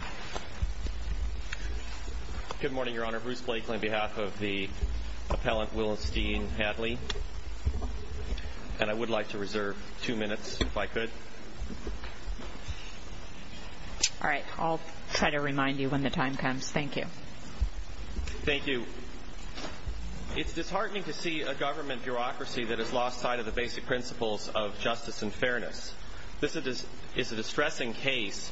It is disheartening to see a government bureaucracy that has lost sight of the basic principles of justice and fairness. This is a distressing case,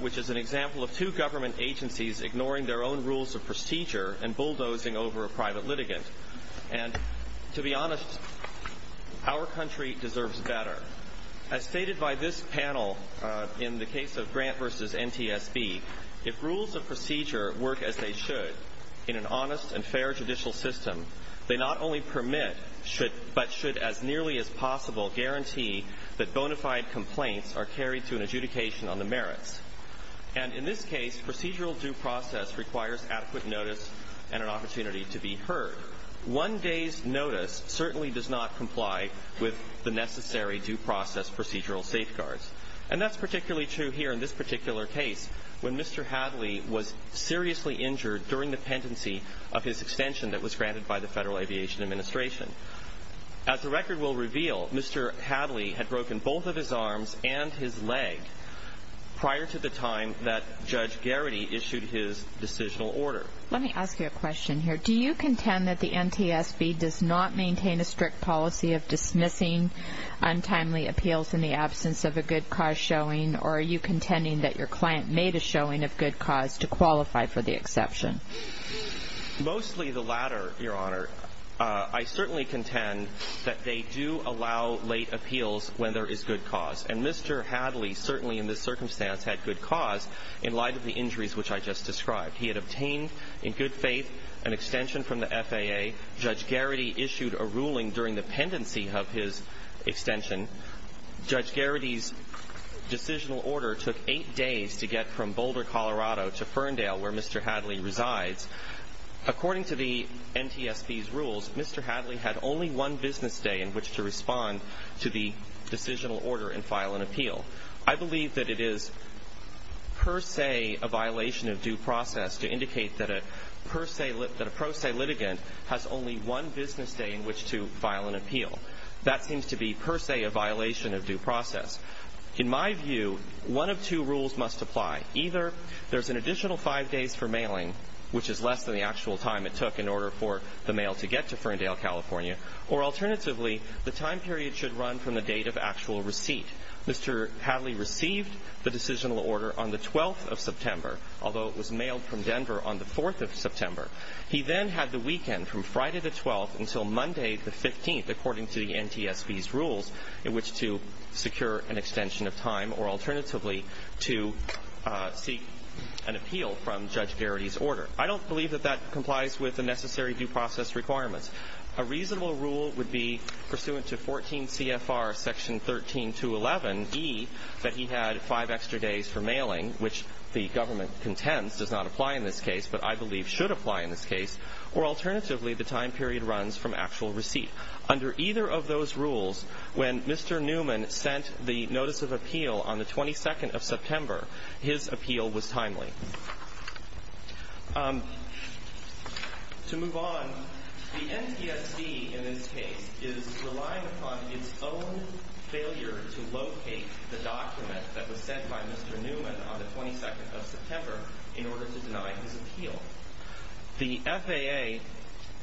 which is an example of two government agencies ignoring their own rules of procedure and bulldozing over a private litigant. To be honest, our country deserves better. As stated by this panel in the case of Grant v. NTSB, if rules of procedure work as they should in an honest and fair judicial system, they not only permit, but should as nearly as possible guarantee that bona fide complaints are carried to an adjudication on the merits. In this case, procedural due process requires adequate notice and an opportunity to be heard. One day's notice certainly does not comply with the necessary due process procedural safeguards. That is particularly true here in this particular case, when Mr. Hadley was seriously injured during the pendency of his extension that was granted by the Federal Aviation Administration. As the record will reveal, Mr. Hadley had broken both of his arms and his leg prior to the time that Judge Garrity issued his decisional order. Let me ask you a question here. Do you contend that the NTSB does not maintain a strict policy of dismissing untimely appeals in the absence of a good cause showing, or are you contending that your client made a showing of good cause to qualify for the exception? Mostly the latter, Your Honor. I certainly contend that they do allow late appeals when there is good cause. And Mr. Hadley certainly in this circumstance had good cause in light of the injuries which I just described. He had obtained, in good faith, an extension from the FAA. Judge Garrity issued a ruling during the pendency of his extension. Judge Garrity's decisional order took eight days to get from Boulder, Colorado to Ferndale, where Mr. Hadley resides. According to the NTSB's rules, Mr. Hadley had only one business day in which to respond to the decisional order and file an appeal. I believe that it is per se a violation of due process to indicate that a pro se litigant has only one business day in which to file an appeal. That seems to be per se a violation of due process. In my view, one of two rules must apply. Either there's an additional five days for mailing, which is less than the actual time it took in order for the mail to get to Ferndale, California. Or alternatively, the time period should run from the date of actual receipt. Mr. Hadley received the decisional order on the 12th of September, although it was mailed from Denver on the 4th of September. He then had the weekend from Friday the 12th until Monday the 15th, according to the NTSB's rules, in which to secure an extension of time, or alternatively, to seek an appeal from Judge Garrity's order. I don't believe that that complies with the necessary due process requirements. A reasonable rule would be pursuant to 14 CFR section 13211E, that he had five extra days for mailing, which the government contends does not apply in this case, but I believe should apply in this case. Or alternatively, the time period runs from actual receipt. Under either of those rules, when Mr. Newman sent the notice of appeal on the 22nd of September, his appeal was timely. To move on, the NTSB, in this case, is relying upon its own failure to locate the document that was sent by Mr. Newman on the 22nd of September in order to deny his appeal. The FAA,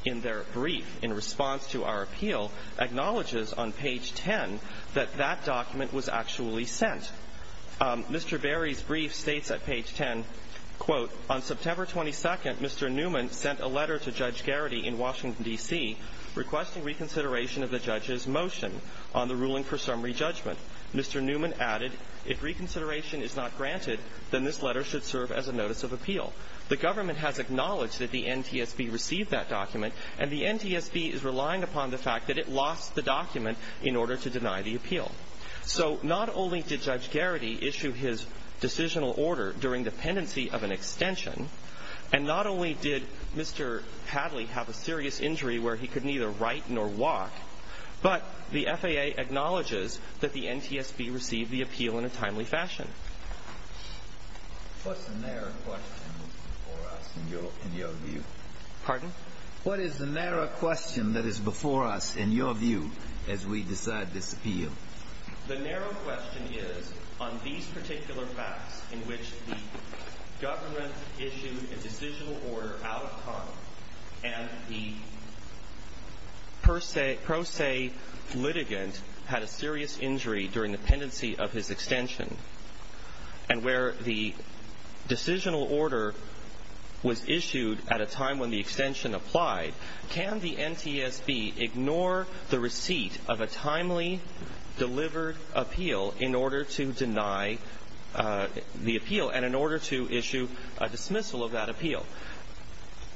in their brief in response to our appeal, acknowledges on page 10 that that document was actually sent. Mr. Berry's brief states at page 10, quote, on September 22nd, Mr. Newman sent a letter to Judge Garrity in Washington, D.C., requesting reconsideration of the judge's motion on the ruling for summary judgment. Mr. Newman added, if reconsideration is not granted, then this letter should serve as a notice of appeal. The government has acknowledged that the NTSB received that document, and the NTSB is relying upon the fact that it lost the document in order to deny the appeal. So not only did Judge Garrity issue his decisional order during dependency of an extension, and not only did Mr. Hadley have a serious injury where he could neither write nor walk, but the FAA acknowledges that the NTSB received the appeal in a timely fashion. What's the narrow question that's before us in your view? Pardon? What is the narrow question that is before us in your view as we decide this appeal? The narrow question is on these particular facts in which the government issued a decisional order out of common, and the pro se litigant had a serious injury during dependency of his extension, and where the decisional order was issued at a time when the extension applied, can the NTSB ignore the receipt of a timely delivered appeal in order to deny the appeal, and in order to issue a dismissal of that appeal?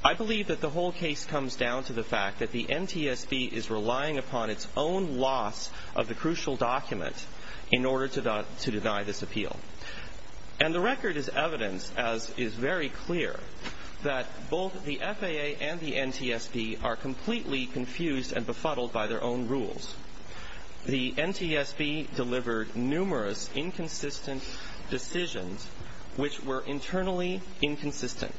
I believe that the whole case comes down to the fact that the NTSB is relying upon its own loss of the crucial document in order to deny this appeal. And the record is evidence, as is very clear, that both the FAA and the NTSB are completely confused and befuddled by their own rules. The NTSB delivered numerous inconsistent decisions which were internally inconsistent.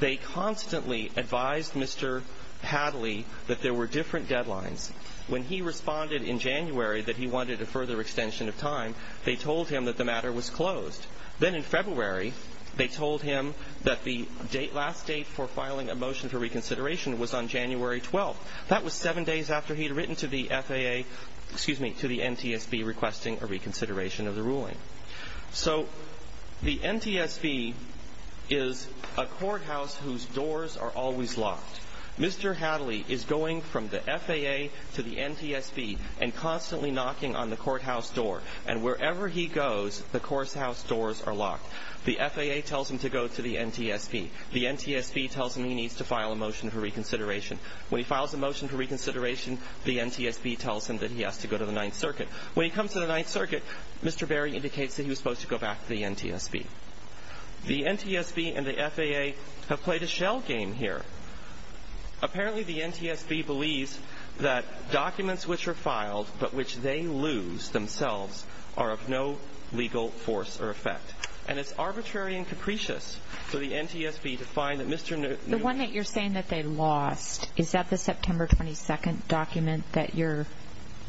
They constantly advised Mr. Hadley that there were different deadlines. When he responded in January that he wanted a further extension of time, they told him that the matter was closed. Then in February, they told him that the last date for filing a motion for reconsideration was on January 12th. That was seven days after he had written to the FAA, excuse me, to the NTSB requesting a reconsideration of the ruling. So the NTSB is a courthouse whose doors are always locked. Mr. Hadley is going from the FAA to the NTSB and constantly knocking on the courthouse door. And wherever he goes, the courthouse doors are locked. The FAA tells him to go to the NTSB. The NTSB tells him he needs to file a motion for reconsideration. When he files a motion for reconsideration, the NTSB tells him that he has to go to the Ninth Circuit. When he comes to the Ninth Circuit, Mr. Berry indicates that he was supposed to go back to the NTSB. The NTSB and the FAA have played a shell game here. Apparently, the NTSB believes that documents which are filed but which they lose themselves are of no legal force or effect. And it's arbitrary and capricious for the NTSB to find that Mr. Newell The one that you're saying that they lost, is that the September 22nd document that your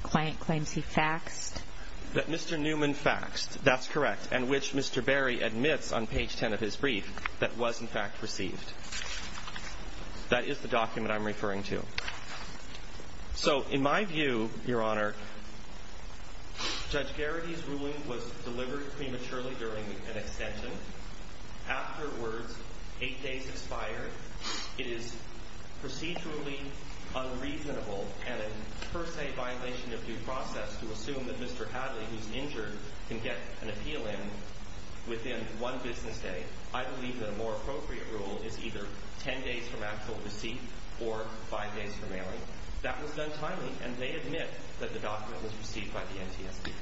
client claims he faxed? That Mr. Newman faxed. That's correct. And which Mr. Berry admits on page 10 of his brief that was in fact received. That is the document I'm referring to. So, in my view, Your Honor, Judge Garrity's ruling was delivered prematurely during an extension. Afterwards, eight days expired. It is procedurally unreasonable and a per se violation of due process to assume that Mr. Hadley, who's injured, can get an appeal in within one business day. I believe that a more appropriate rule is either ten days from actual receipt or five days from mailing. That was done timely, and they admit that the document was received by the NTSB.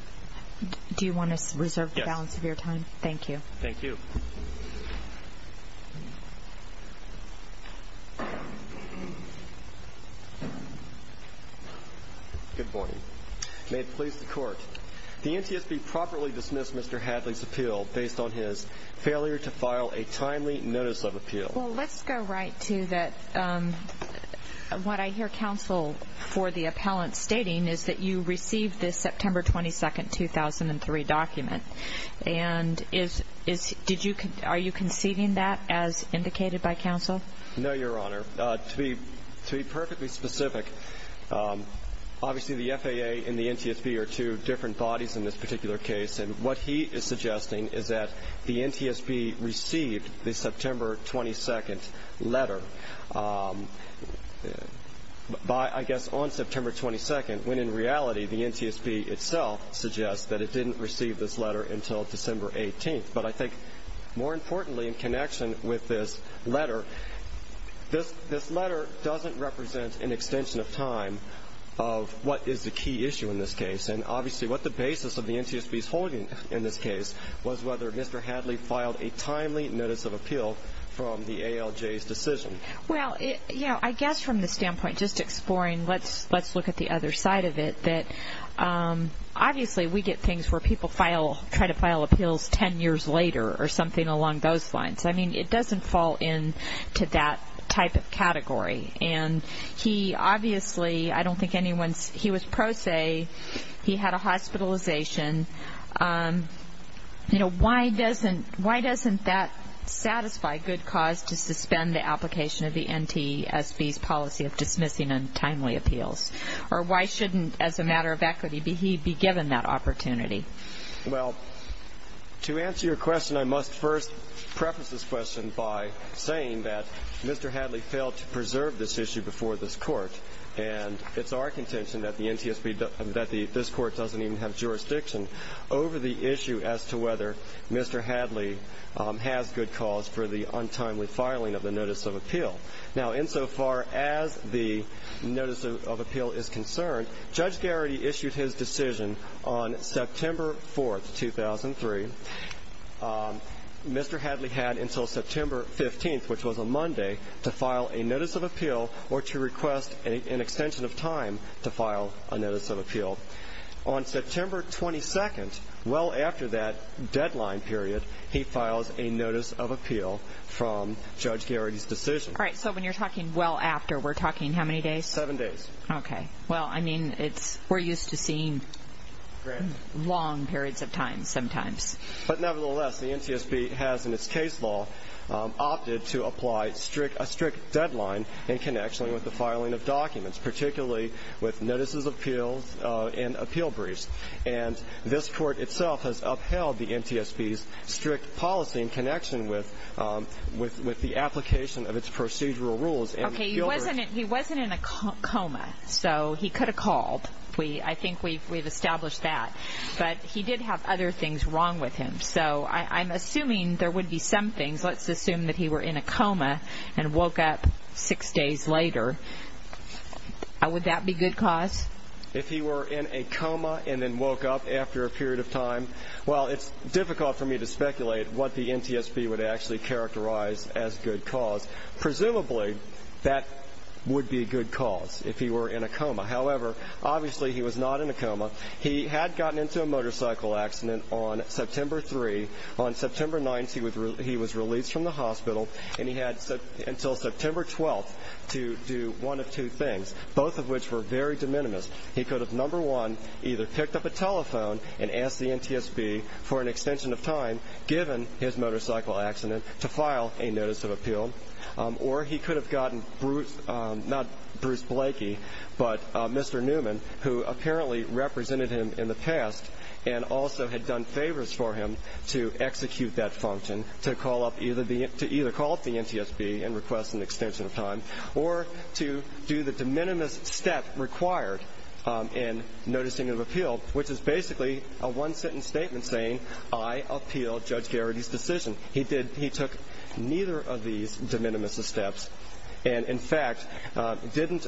Do you want to reserve the balance of your time? Yes. Thank you. Thank you. Good morning. May it please the Court. The NTSB properly dismissed Mr. Hadley's appeal based on his failure to file a timely notice of appeal. Well, let's go right to what I hear counsel for the appellant stating, is that you received this September 22nd, 2003 document. And are you conceding that as indicated by counsel? No, Your Honor. To be perfectly specific, obviously the FAA and the NTSB are two different bodies in this particular case. And what he is suggesting is that the NTSB received the September 22nd letter, I guess, on September 22nd, when in reality the NTSB itself suggests that it didn't receive this letter until December 18th. But I think more importantly in connection with this letter, this letter doesn't represent an extension of time of what is the key issue in this case. And obviously what the basis of the NTSB's holding in this case was whether Mr. Hadley filed a timely notice of appeal from the ALJ's decision. Well, you know, I guess from the standpoint, just exploring, let's look at the other side of it, that obviously we get things where people try to file appeals ten years later or something along those lines. I mean, it doesn't fall into that type of category. And he obviously, I don't think anyone's, he was pro se, he had a hospitalization. You know, why doesn't that satisfy good cause to suspend the application of the NTSB's policy of dismissing untimely appeals? Or why shouldn't, as a matter of equity, he be given that opportunity? Well, to answer your question, I must first preface this question by saying that Mr. Hadley failed to preserve this issue before this Court. And it's our contention that this Court doesn't even have jurisdiction over the issue as to whether Mr. Hadley has good cause for the untimely filing of the notice of appeal. Now, insofar as the notice of appeal is concerned, Judge Garrity issued his decision on September 4, 2003. Mr. Hadley had until September 15, which was a Monday, to file a notice of appeal or to request an extension of time to file a notice of appeal. On September 22, well after that deadline period, he files a notice of appeal from Judge Garrity's decision. All right, so when you're talking well after, we're talking how many days? Seven days. Okay. Well, I mean, it's, we're used to seeing long periods of time sometimes. But nevertheless, the NTSB has, in its case law, opted to apply a strict deadline in connection with the filing of documents, particularly with notices of appeals and appeal briefs. And this Court itself has upheld the NTSB's strict policy in connection with the application of its procedural rules. Okay, he wasn't in a coma, so he could have called. I think we've established that. But he did have other things wrong with him. So I'm assuming there would be some things. Let's assume that he were in a coma and woke up six days later. Would that be good cause? If he were in a coma and then woke up after a period of time? Well, it's difficult for me to speculate what the NTSB would actually characterize as good cause. Presumably, that would be good cause if he were in a coma. However, obviously he was not in a coma. He had gotten into a motorcycle accident on September 3. On September 9, he was released from the hospital. And he had until September 12 to do one of two things, both of which were very de minimis. He could have, number one, either picked up a telephone and asked the NTSB for an extension of time, given his motorcycle accident, to file a notice of appeal. Or he could have gotten Bruce, not Bruce Blakey, but Mr. Newman, who apparently represented him in the past and also had done favors for him, to execute that function to either call up the NTSB and request an extension of time or to do the de minimis step required in noticing of appeal, which is basically a one-sentence statement saying, I appeal Judge Garrity's decision. He took neither of these de minimis steps and, in fact, didn't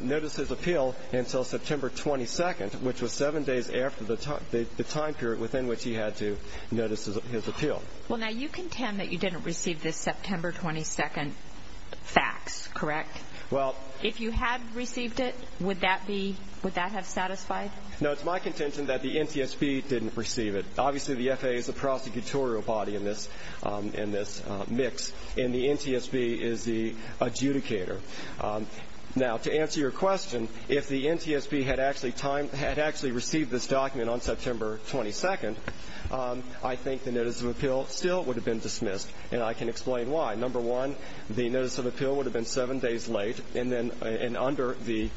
notice his appeal until September 22, which was seven days after the time period within which he had to notice his appeal. Well, now you contend that you didn't receive this September 22 fax, correct? If you had received it, would that have satisfied? No, it's my contention that the NTSB didn't receive it. Obviously the FAA is the prosecutorial body in this mix, and the NTSB is the adjudicator. Now, to answer your question, if the NTSB had actually received this document on September 22, I think the notice of appeal still would have been dismissed, and I can explain why. Number one, the notice of appeal would have been seven days late, and then under the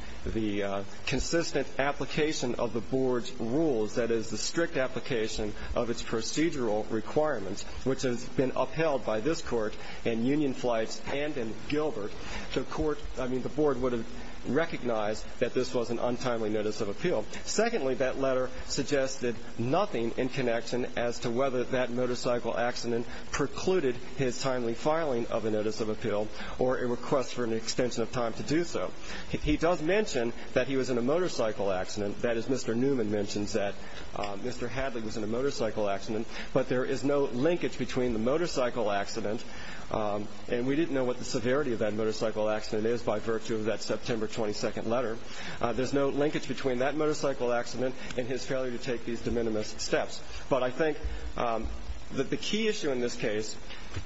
consistent application of the board's rules, that is the strict application of its procedural requirements, which has been upheld by this Court in Union Flights and in Gilbert, the board would have recognized that this was an untimely notice of appeal. Secondly, that letter suggested nothing in connection as to whether that motorcycle accident precluded his timely filing of a notice of appeal or a request for an extension of time to do so. He does mention that he was in a motorcycle accident. That is, Mr. Newman mentions that Mr. Hadley was in a motorcycle accident, but there is no linkage between the motorcycle accident and we didn't know what the severity of that motorcycle accident is by virtue of that September 22 letter. There's no linkage between that motorcycle accident and his failure to take these de minimis steps. But I think that the key issue in this case,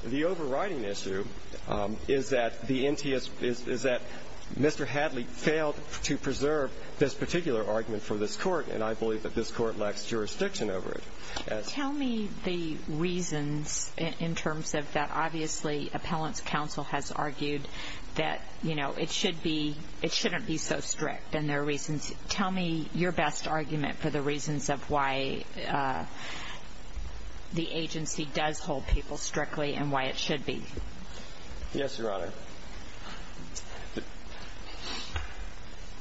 the overriding issue, is that the NTSB is that Mr. Hadley failed to preserve this particular argument for this Court, and I believe that this Court lacks jurisdiction over it. Tell me the reasons in terms of that. Obviously, appellant's counsel has argued that it shouldn't be so strict, and there are reasons. Tell me your best argument for the reasons of why the agency does hold people strictly and why it should be. Yes, Your Honor.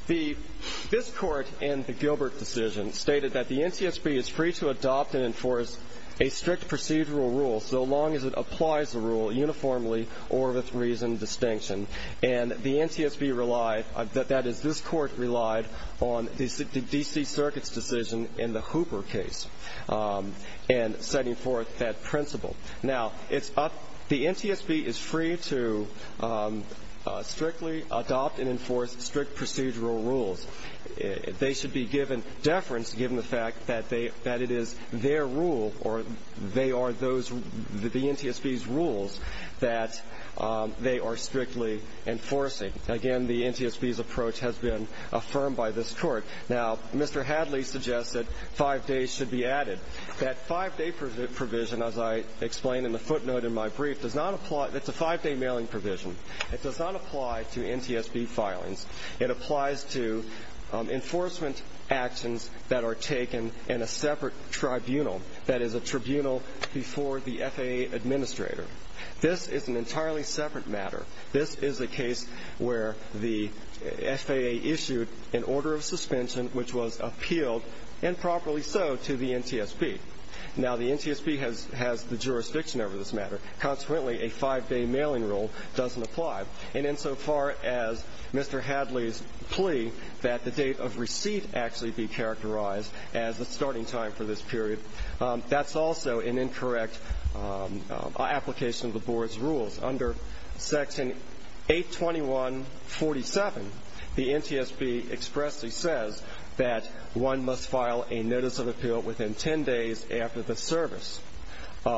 This Court in the Gilbert decision stated that the NTSB is free to adopt and enforce a strict procedural rule so long as it applies the rule uniformly or with reason and distinction. And the NTSB relied, that is, this Court relied on the D.C. Circuit's decision in the Hooper case in setting forth that principle. Now, the NTSB is free to strictly adopt and enforce strict procedural rules. They should be given deference given the fact that it is their rule or they are those, the NTSB's rules that they are strictly enforcing. Again, the NTSB's approach has been affirmed by this Court. Now, Mr. Hadley suggests that five days should be added. That five-day provision, as I explained in the footnote in my brief, does not apply. It's a five-day mailing provision. It does not apply to NTSB filings. It applies to enforcement actions that are taken in a separate tribunal, that is, a tribunal before the FAA administrator. This is an entirely separate matter. This is a case where the FAA issued an order of suspension, which was appealed, and properly so, to the NTSB. Now, the NTSB has the jurisdiction over this matter. Consequently, a five-day mailing rule doesn't apply. And insofar as Mr. Hadley's plea that the date of receipt actually be characterized as the starting time for this period, that's also an incorrect application of the Board's rules. Under Section 821.47, the NTSB expressly says that one must file a notice of appeal within 10 days after the service in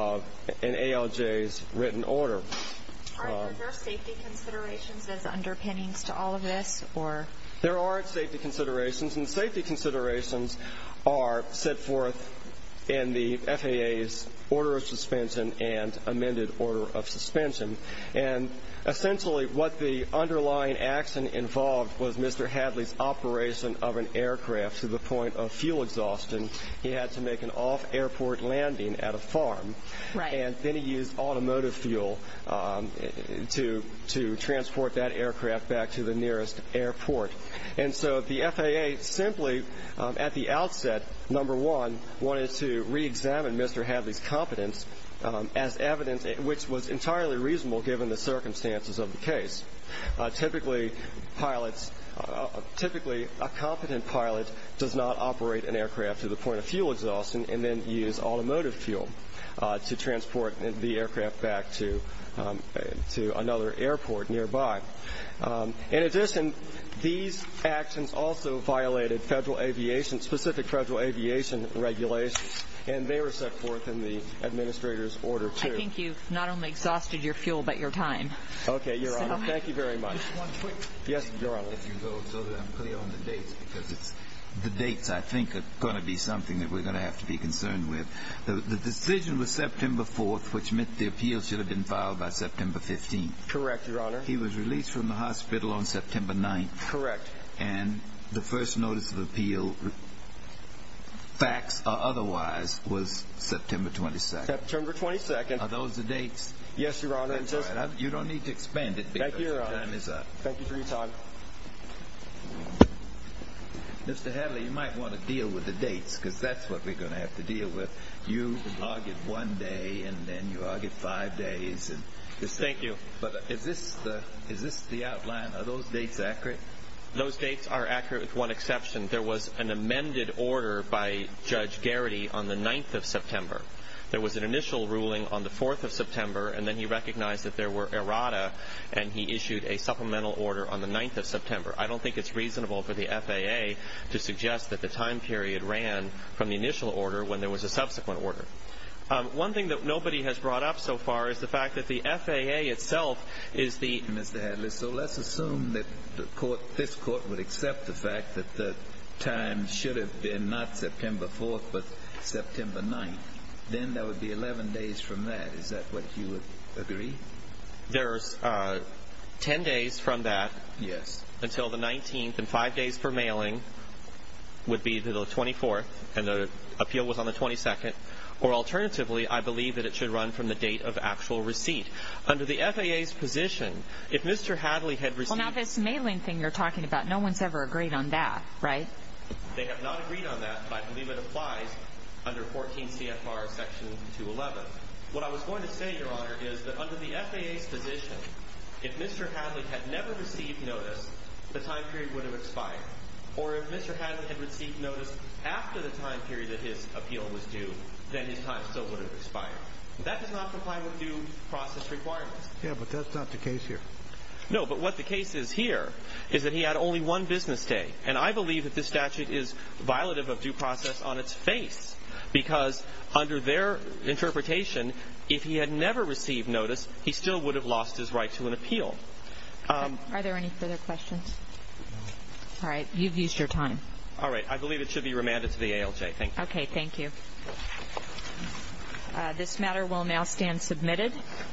ALJ's written order. Are there safety considerations as underpinnings to all of this? There aren't safety considerations, and safety considerations are set forth in the FAA's order of suspension and amended order of suspension. And essentially what the underlying action involved was Mr. Hadley's operation of an aircraft to the point of fuel exhaustion. He had to make an off-airport landing at a farm. And then he used automotive fuel to transport that aircraft back to the nearest airport. And so the FAA simply at the outset, number one, wanted to reexamine Mr. Hadley's competence as evidence, which was entirely reasonable given the circumstances of the case. Typically pilots, typically a competent pilot does not operate an aircraft to the point of fuel exhaustion and then use automotive fuel to transport the aircraft back to another airport nearby. In addition, these actions also violated federal aviation, specific federal aviation regulations, and they were set forth in the administrator's order, too. I think you've not only exhausted your fuel but your time. Okay, Your Honor. Thank you very much. Just one quick thing. Yes, Your Honor. If you go so that I'm clear on the dates, because the dates, I think, are going to be something that we're going to have to be concerned with. The decision was September 4th, which meant the appeal should have been filed by September 15th. Correct, Your Honor. He was released from the hospital on September 9th. Correct. And the first notice of appeal, facts or otherwise, was September 22nd. September 22nd. Are those the dates? Yes, Your Honor. That's all right. You don't need to expand it because your time is up. Thank you, Your Honor. Thank you for your time. Mr. Hadley, you might want to deal with the dates because that's what we're going to have to deal with. You argued one day and then you argued five days. Yes, thank you. But is this the outline? Are those dates accurate? Those dates are accurate with one exception. There was an amended order by Judge Garrity on the 9th of September. There was an initial ruling on the 4th of September, and then he recognized that there were errata and he issued a supplemental order on the 9th of September. I don't think it's reasonable for the FAA to suggest that the time period ran from the initial order when there was a subsequent order. One thing that nobody has brought up so far is the fact that the FAA itself is the— Mr. Hadley, so let's assume that this Court would accept the fact that the time should have been not September 4th but September 9th. Then there would be 11 days from that. Is that what you would agree? There's 10 days from that until the 19th, and five days for mailing would be the 24th, and the appeal was on the 22nd. Or alternatively, I believe that it should run from the date of actual receipt. Under the FAA's position, if Mr. Hadley had received— Well, now this mailing thing you're talking about, no one's ever agreed on that, right? They have not agreed on that, but I believe it applies under 14 CFR Section 211. What I was going to say, Your Honor, is that under the FAA's position, if Mr. Hadley had never received notice, the time period would have expired. Or if Mr. Hadley had received notice after the time period that his appeal was due, then his time still would have expired. That does not comply with due process requirements. Yeah, but that's not the case here. No, but what the case is here is that he had only one business day, and I believe that this statute is violative of due process on its face because under their interpretation, if he had never received notice, he still would have lost his right to an appeal. Are there any further questions? All right. You've used your time. All right. I believe it should be remanded to the ALJ. Thank you. Okay. Thank you. This matter will now stand submitted.